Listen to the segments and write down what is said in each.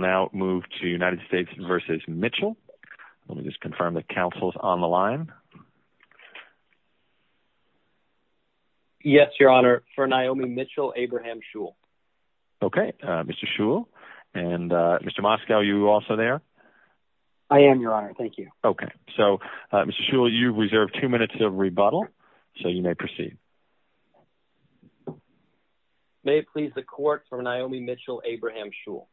now move to United States v. Mitchell. Let me just confirm that counsel's on the line. Yes, Your Honor. For Naomi Mitchell, Abraham Shul. Okay, Mr. Shul. And Mr. Moskow, are you also there? I am, Your Honor. Thank you. Okay. So, Mr. Shul, you've reserved two minutes of rebuttal, so you may proceed. May it please the court for Naomi Mitchell, Abraham Shul.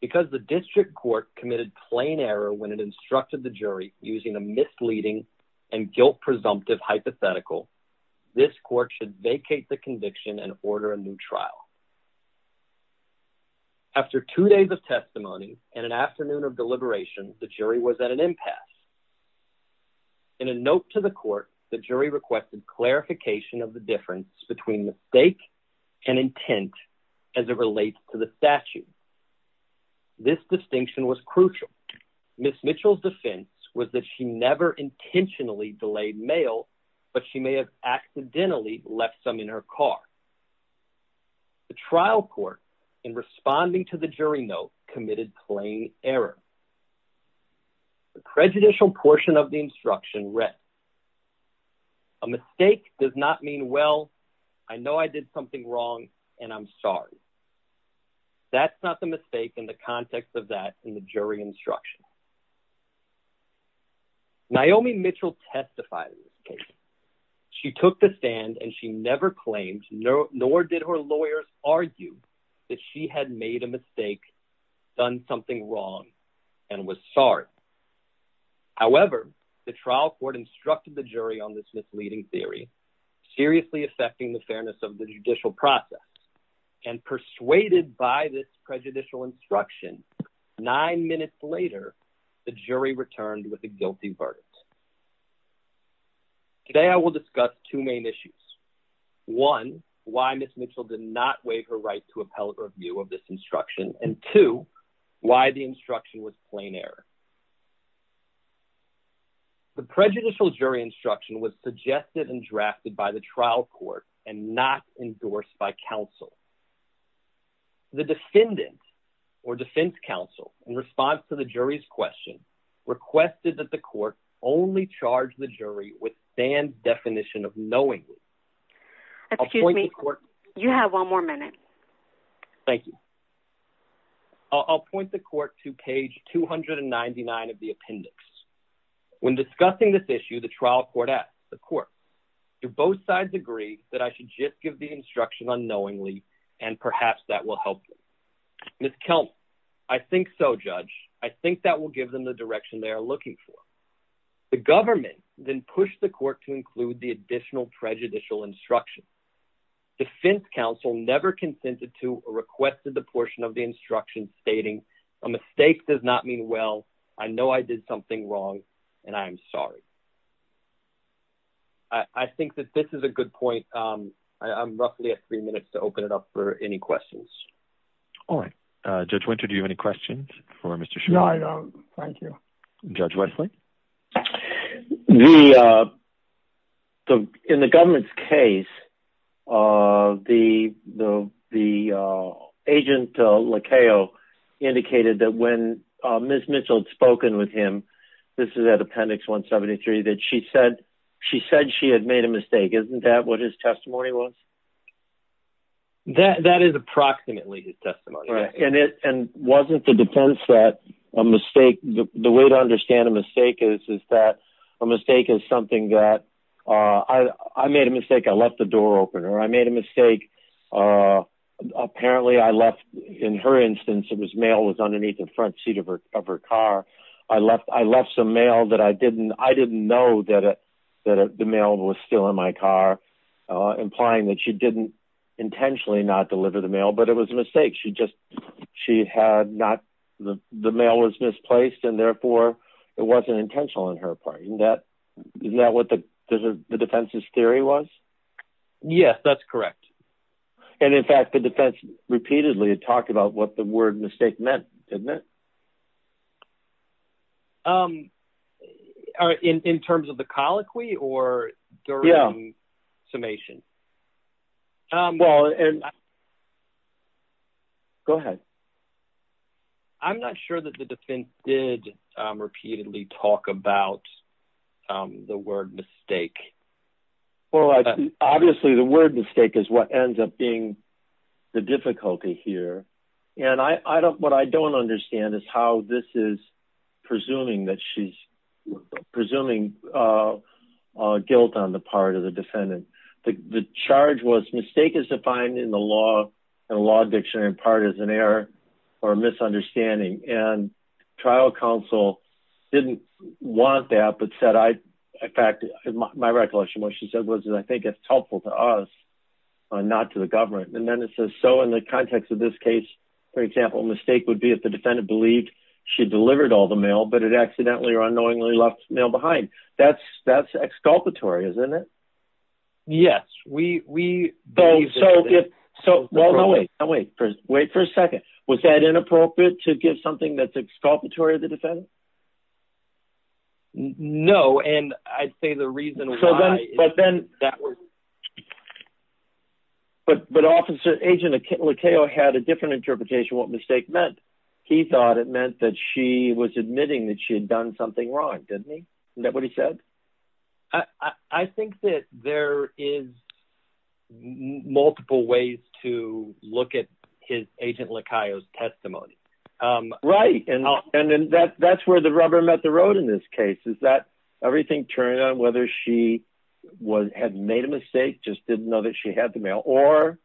Because the district court committed plain error when it instructed the jury using a misleading and guilt-presumptive hypothetical, this court should vacate the conviction and order a new trial. After two days of testimony and an afternoon of deliberation, the jury was at an impasse. In a note to the court, the jury requested clarification of the difference between mistake and intent as it relates to the statute. This distinction was crucial. Ms. Mitchell's defense was that she never intentionally delayed mail, but she may have accidentally left some in her car. The trial court, in responding to the jury note, committed plain error. The prejudicial portion of the instruction read, A mistake does not mean, well, I know I did something wrong and I'm sorry. That's not the mistake in the context of that in the jury instruction. Naomi Mitchell testified in this case. She took the stand and she never claimed, nor did her lawyer argue, that she had made a mistake, done something wrong, and was sorry. However, the trial court instructed the jury on this misleading theory, seriously affecting the fairness of the judicial process, and persuaded by this prejudicial instruction, nine minutes later, the jury returned with a guilty verdict. Today, I will discuss two main issues. One, why Ms. Mitchell did not waive her right to appellate review of this instruction, and two, why the instruction was plain error. The prejudicial jury instruction was suggested and drafted by the trial court, and not endorsed by counsel. The defendant, or defense counsel, in response to the jury's question, requested that the court only charge the jury with banned definition of knowingly. Excuse me, you have one more minute. Thank you. I'll point the court to page 299 of the appendix. When discussing this issue, the trial court asked the court, do both sides agree that I should just give the instruction unknowingly, and perhaps that will help them? Ms. Kelman, I think so, judge. I think that will give them the direction they are looking for. The government then pushed the court to include the or requested the portion of the instruction stating, a mistake does not mean well, I know I did something wrong, and I'm sorry. I think that this is a good point. I'm roughly at three minutes to open it up for any questions. All right. Judge Winter, do you have any questions for Mr. Schumer? No, I don't. Thank you. Judge Wesley? In the government's case, the agent indicated that when Ms. Mitchell had spoken with him, this is at appendix 173, that she said she had made a mistake. Isn't that what his testimony was? That is approximately his testimony. And wasn't the defense that a mistake, the way to understand a mistake is that a mistake is something that, I made a mistake, I left the door open, or I made a mistake. Apparently, I left, in her instance, it was mail was underneath the front seat of her car. I left some mail that I didn't, I didn't know that the mail was still in my car, implying that she didn't intentionally not deliver the mail, but it was a mistake. She just, she had not, the mail was misplaced, and therefore, it wasn't intentional on her part. Isn't that what the defense's theory was? Yes, that's correct. And in fact, the defense repeatedly had talked about what the word mistake meant, didn't it? In terms of the colloquy or during summation? Well, and go ahead. I'm not sure that the defense did repeatedly talk about the word mistake. Well, obviously, the word mistake is what ends up being the difficulty here. And I don't, what I don't understand is how this is presuming that she's presuming guilt on the part of the defendant. The charge was mistake is defined in the law and law dictionary in part as an error or misunderstanding. And trial counsel didn't want that, but said, I, in fact, my recollection, what she said was, I think it's helpful to us, not to the government. And then it says, so in the context of this case, for example, mistake would be if the defendant believed she delivered all the mail, but it accidentally or unknowingly left mail behind. That's, that's exculpatory, isn't it? Yes, we, we, so, so wait, wait for a second. Was that inappropriate to give something that's exculpatory to the defendant? No. And I'd say the reason, but then, but, but officer agent had a different interpretation, what mistake meant. He thought it meant that she was admitting that she had done something wrong. Is that what he said? I, I think that there is multiple ways to look at his agent Likaios testimony. Right. And, and then that that's where the rubber met the road in this case, is that everything turned out, whether she was, had made a mistake, just didn't know that she had the mail or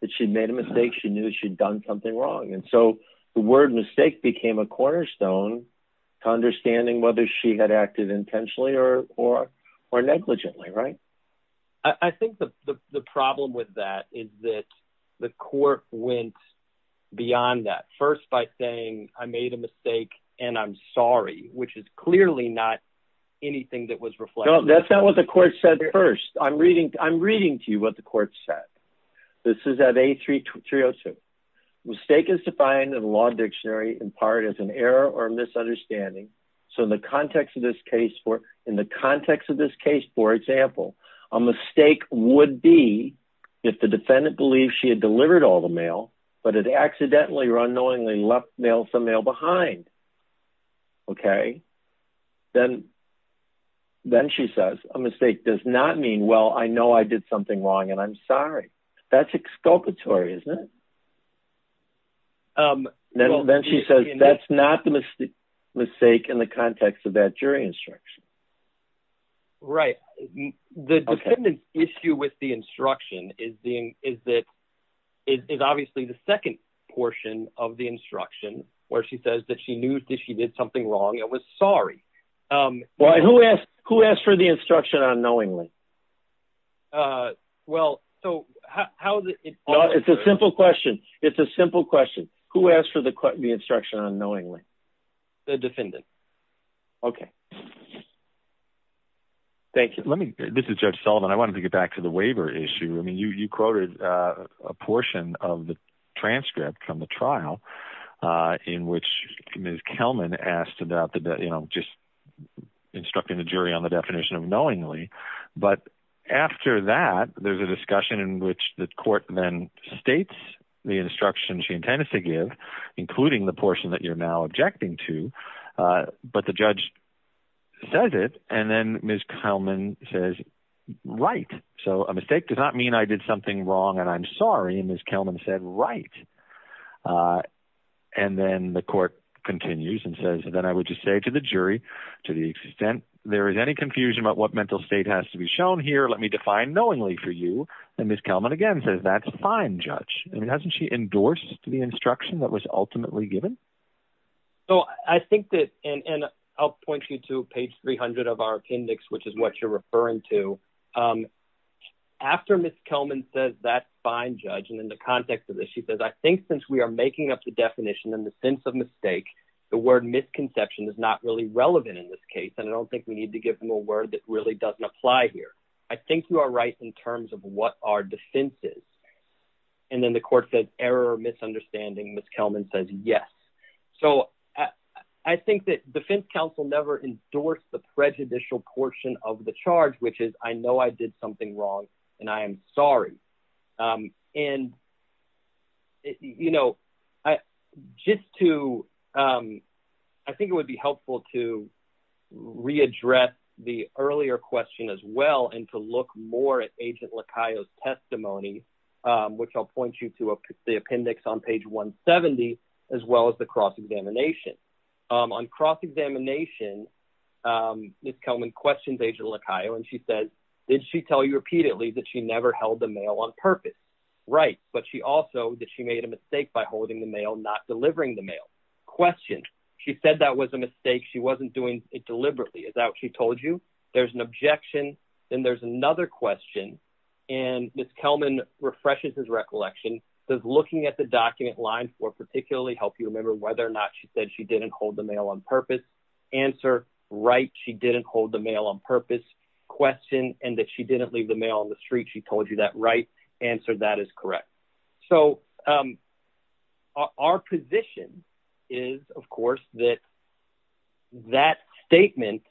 that she'd made a mistake. She knew she'd done something wrong. And so the word mistake became a cornerstone to understanding whether she had acted intentionally or, or, or negligently. Right. I think the problem with that is that the court went beyond that first by saying, I made a mistake and I'm sorry, which is clearly not anything that was reflected. That's not what the court said first. I'm reading, I'm reading to you what the court said. This is at a three to three Oh two mistake is defined in the law dictionary in part as an error or misunderstanding. So in the context of this case, for in the context of this case, for example, a mistake would be if the defendant believes she had delivered all the mail, but it accidentally or unknowingly left male from male behind. Okay. Then, then she says a mistake does not mean, well, I know I did something wrong and I'm sorry. That's exculpatory. Isn't it? Then she says, that's not the mistake mistake in the context of that jury instruction. Right. The dependent issue with the instruction is the, is that it is obviously the second portion of the instruction where she says that she knew that she did something wrong. I was sorry. Um, well, who asked, who asked for the instruction on knowingly? Uh, well, so how is it? It's a simple question. It's a simple question. Who asked for the, the instruction on knowingly the defendant. Okay. Thank you. Let me, this is judge Sullivan. I wanted to get back to the waiver issue. I mean, you, you quoted a portion of the transcript from the trial, uh, in which Ms. Kelman asked about the, you know, just instructing the jury on the definition of knowingly. But after that, there's a discussion in which the court then states the instruction she intended to give, including the portion that you're now objecting to. Uh, but the judge says it. And then Ms. Kelman says, right. So a mistake does not mean I did something wrong and I'm sorry. And Ms. Kelman said, right. Uh, and then the court continues and says, and then I would just say to the jury, to the extent there is any confusion about what mental state has to be shown here, let me define knowingly for you. And Ms. Kelman again says, that's fine, judge. I mean, hasn't she endorsed the instruction that was ultimately given? So I think that, and I'll you to page 300 of our appendix, which is what you're referring to. Um, after Ms. Kelman says that fine judge. And in the context of this, she says, I think since we are making up the definition and the sense of mistake, the word misconception is not really relevant in this case. And I don't think we need to give them a word that really doesn't apply here. I think you are right in terms of what our defense is. And then the court says error or misunderstanding. Ms. Kelman says, yes. So I think that defense counsel never endorsed the prejudicial portion of the charge, which is, I know I did something wrong and I am sorry. Um, and you know, I, just to, um, I think it would be helpful to readdress the earlier question as well. And to look more at testimony, um, which I'll point you to the appendix on page one 70, as well as the cross examination, um, on cross examination, um, Ms. Kelman questions, agent Lakayo. And she says, did she tell you repeatedly that she never held the mail on purpose? Right. But she also, that she made a mistake by holding the mail, not delivering the mail question. She said that was a mistake. She wasn't doing it deliberately. Is that what she told you? There's an objection. Then there's another question. And Ms. Kelman refreshes his recollection. Does looking at the document line for particularly help you remember whether or not she said she didn't hold the mail on purpose answer, right? She didn't hold the mail on purpose question and that she didn't leave the mail on the street. She told you that right answer. That is correct. So, um, our position is of course that that statement,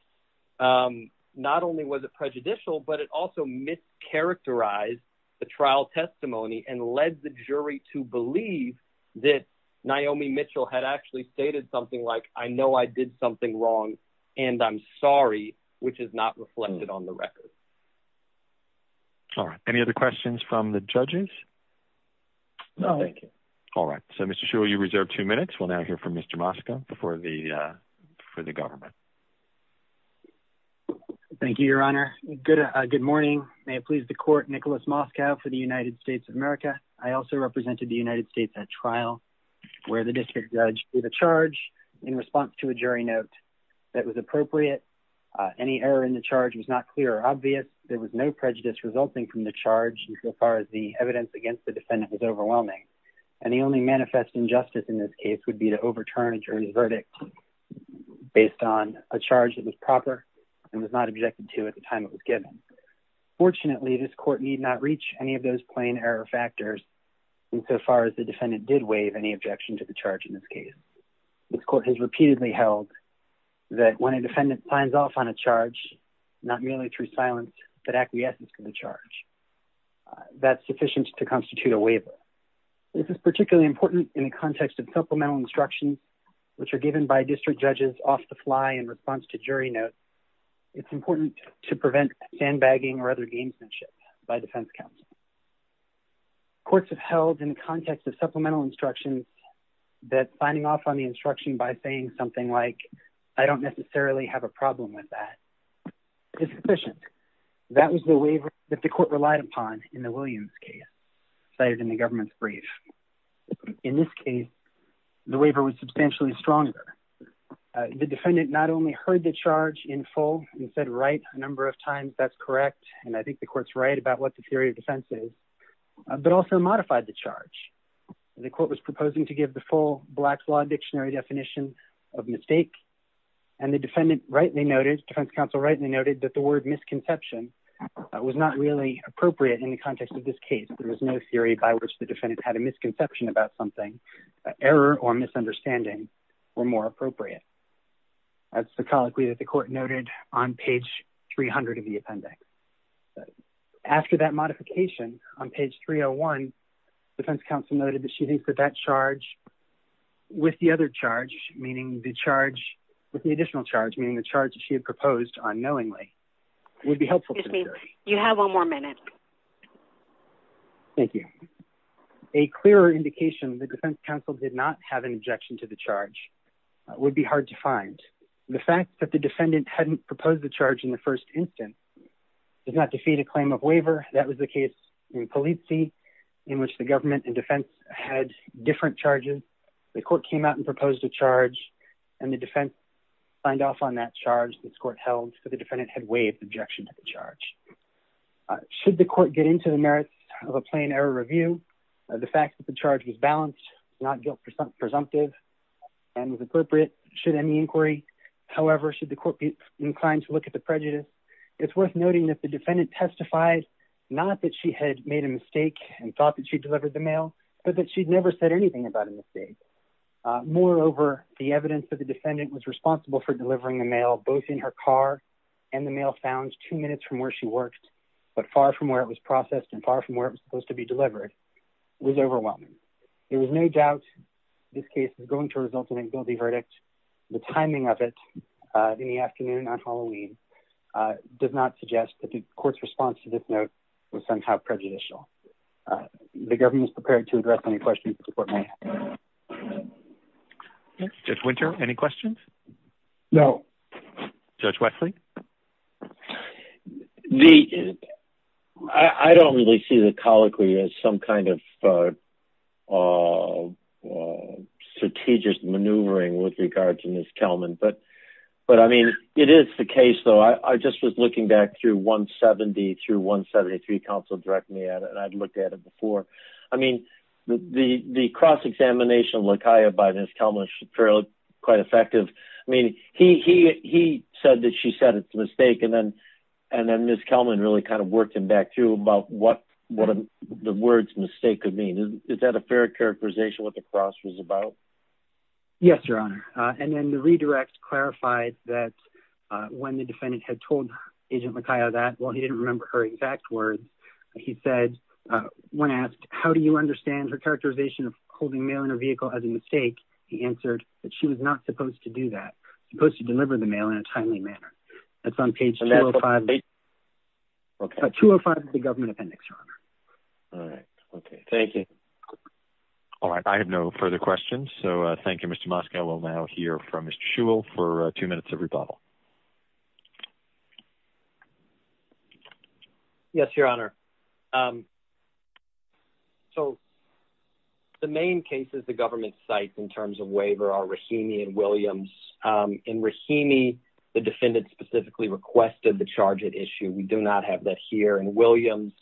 um, not only was it prejudicial, but it also mischaracterized the trial testimony and led the jury to believe that Naomi Mitchell had actually stated something like, I know I did something wrong and I'm sorry, which is not reflected on the record. All right. Any other questions from the judges? No. Thank you. All right. So Mr. Shaw, you reserved two minutes. We'll now hear from Mr. Moskow before the, uh, for the government. Thank you, your honor. Good. Uh, good morning. May it please the court, Nicholas Moskow for the United States of America. I also represented the United States at trial where the district judge did a charge in response to a jury note that was appropriate. Uh, any error in the charge was not clear or obvious. There was no prejudice resulting from the charge. And so far as the injustice in this case would be to overturn a jury's verdict based on a charge that was proper and was not objected to at the time it was given. Fortunately, this court need not reach any of those plain error factors. And so far as the defendant did waive any objection to the charge, in this case, this court has repeatedly held that when a defendant signs off on a charge, not merely through silence, but acquiescence to the charge, uh, that's sufficient to constitute a waiver. This is particularly important in the context of supplemental instructions, which are given by district judges off the fly in response to jury notes. It's important to prevent sandbagging or other gamesmanship by defense counsel. Courts have held in the context of supplemental instructions that signing off on the instruction by saying something like, I don't necessarily have a problem with that. It's efficient. That was the waiver that the court relied upon in the Williams case cited in the government's brief. In this case, the waiver was substantially stronger. Uh, the defendant not only heard the charge in full and said, right. A number of times that's correct. And I think the court's right about what the theory of defense is, but also modified the charge. The court was proposing to give the full black law dictionary definition of mistake. And the defendant rightly noted that the word misconception was not really appropriate in the context of this case. There was no theory by which the defendant had a misconception about something, error or misunderstanding were more appropriate. That's the colloquy that the court noted on page 300 of the appendix. After that modification on page 301, defense counsel noted that she thinks that that charge with the other charge, meaning the charge with the additional charge, meaning the charge that she had proposed on knowingly would be helpful. You have one more minute. Thank you. A clearer indication of the defense counsel did not have an objection to the charge would be hard to find. The fact that the defendant hadn't proposed the charge in the first instance, did not defeat a claim of waiver. That was the case in policy in which the government and defense had different charges. The court came out and proposed a charge and the defense signed off on that charge. This court held for the defendant had waived objection to the charge. Should the court get into the merits of a plain error review of the fact that the charge was balanced, not guilt presumptive and was appropriate should any inquiry. However, should the court be inclined to look at the prejudice, it's worth noting that the defendant testified, not that she had made a mistake and thought that she delivered the mail, but that she'd never said anything about a mistake. Moreover, the evidence that the defendant was delivering the mail, both in her car and the mail found two minutes from where she worked, but far from where it was processed and far from where it was supposed to be delivered was overwhelming. There was no doubt this case is going to result in a guilty verdict. The timing of it, uh, in the afternoon on Halloween, uh, does not suggest that the court's response to this note was somehow prejudicial. Uh, the government is prepared to address any questions. Judge winter, any questions? No. Judge Wesley. The, I don't really see the colloquy as some kind of, uh, uh, uh, strategist maneuvering with regards to Ms. Kelman, but, but I mean, it is the case though. I just was looking back through one 70 three council direct me at it. And I'd looked at it before. I mean, the, the, the cross examination of Lakaya by Ms. Kelman is fairly quite effective. I mean, he, he, he said that she said it's a mistake. And then, and then Ms. Kelman really kind of worked him back through about what, what the words mistake could mean. Is that a fair characterization? What the cross was about? Yes, your honor. Uh, and then the redirect clarified that, uh, when the defendant had told agent Lakaya that, well, he didn't remember her exact words. He said, uh, when asked, how do you understand her characterization of holding mail in her vehicle as a mistake? He answered that she was not supposed to do that. Supposed to deliver the mail in a timely manner. That's on page two or five, two or five of the government appendix. All right. Okay. Thank you. All right. I have no further questions. So thank you, Mr. Moskow. We'll now hear from Mr. For a few minutes of rebuttal. Yes, your honor. Um, so the main cases, the government sites in terms of waiver are Rahimi and Williams. Um, in Rahimi, the defendant specifically requested the charge at issue. We do not have that here in Williams.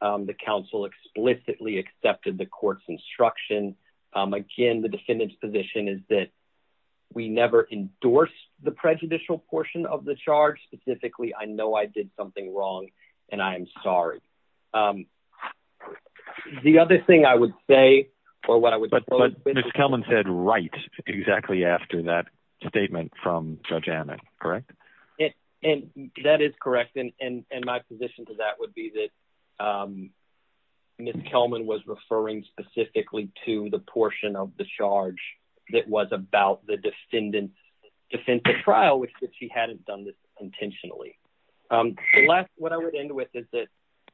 Um, the council explicitly accepted the court's instruction. Um, again, the defendant's position is that we never endorsed the prejudicial portion of the charge. Specifically. I know I did something wrong and I am sorry. Um, the other thing I would say or what I would, but Ms. Kelman said, right, exactly after that statement from judge Anna, correct. And that is correct. And, and, and my position to that would be that, um, Ms. Kelman was referring specifically to the portion of the charge that was about the defendant's defense trial, which she hadn't done this intentionally. Um, the last, what I would end with is that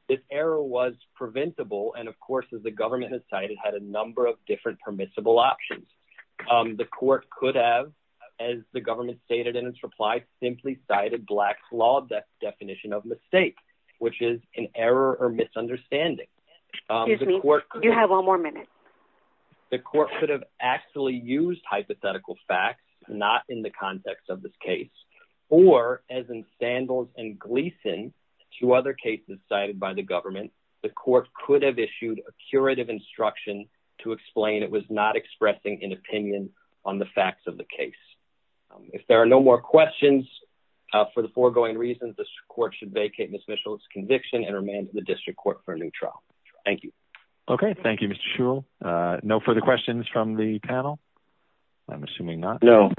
this error was preventable. And of course, as the government has cited, had a number of different permissible options. Um, the court could have, as the government stated in its reply, simply cited black law, that definition of mistake, which is an error or misunderstanding. Um, you have one more minute. The court could have actually used hypothetical facts, not in the context of this case, or as in sandals and Gleason to other cases cited by the government, the court could have issued a curative instruction to explain. It was not expressing an opinion on the facts of the case. Um, if there are no more questions, uh, for the foregoing reasons, the court should vacate Ms. Mitchell's conviction and remanded the district court for a new trial. Thank you. Okay. Thank you, Mr. Shul. Uh, no further questions from the panel. I'm assuming not. No,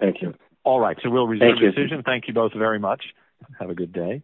thank you. All right. So we'll resume decision. Thank you both very much. Have a good day.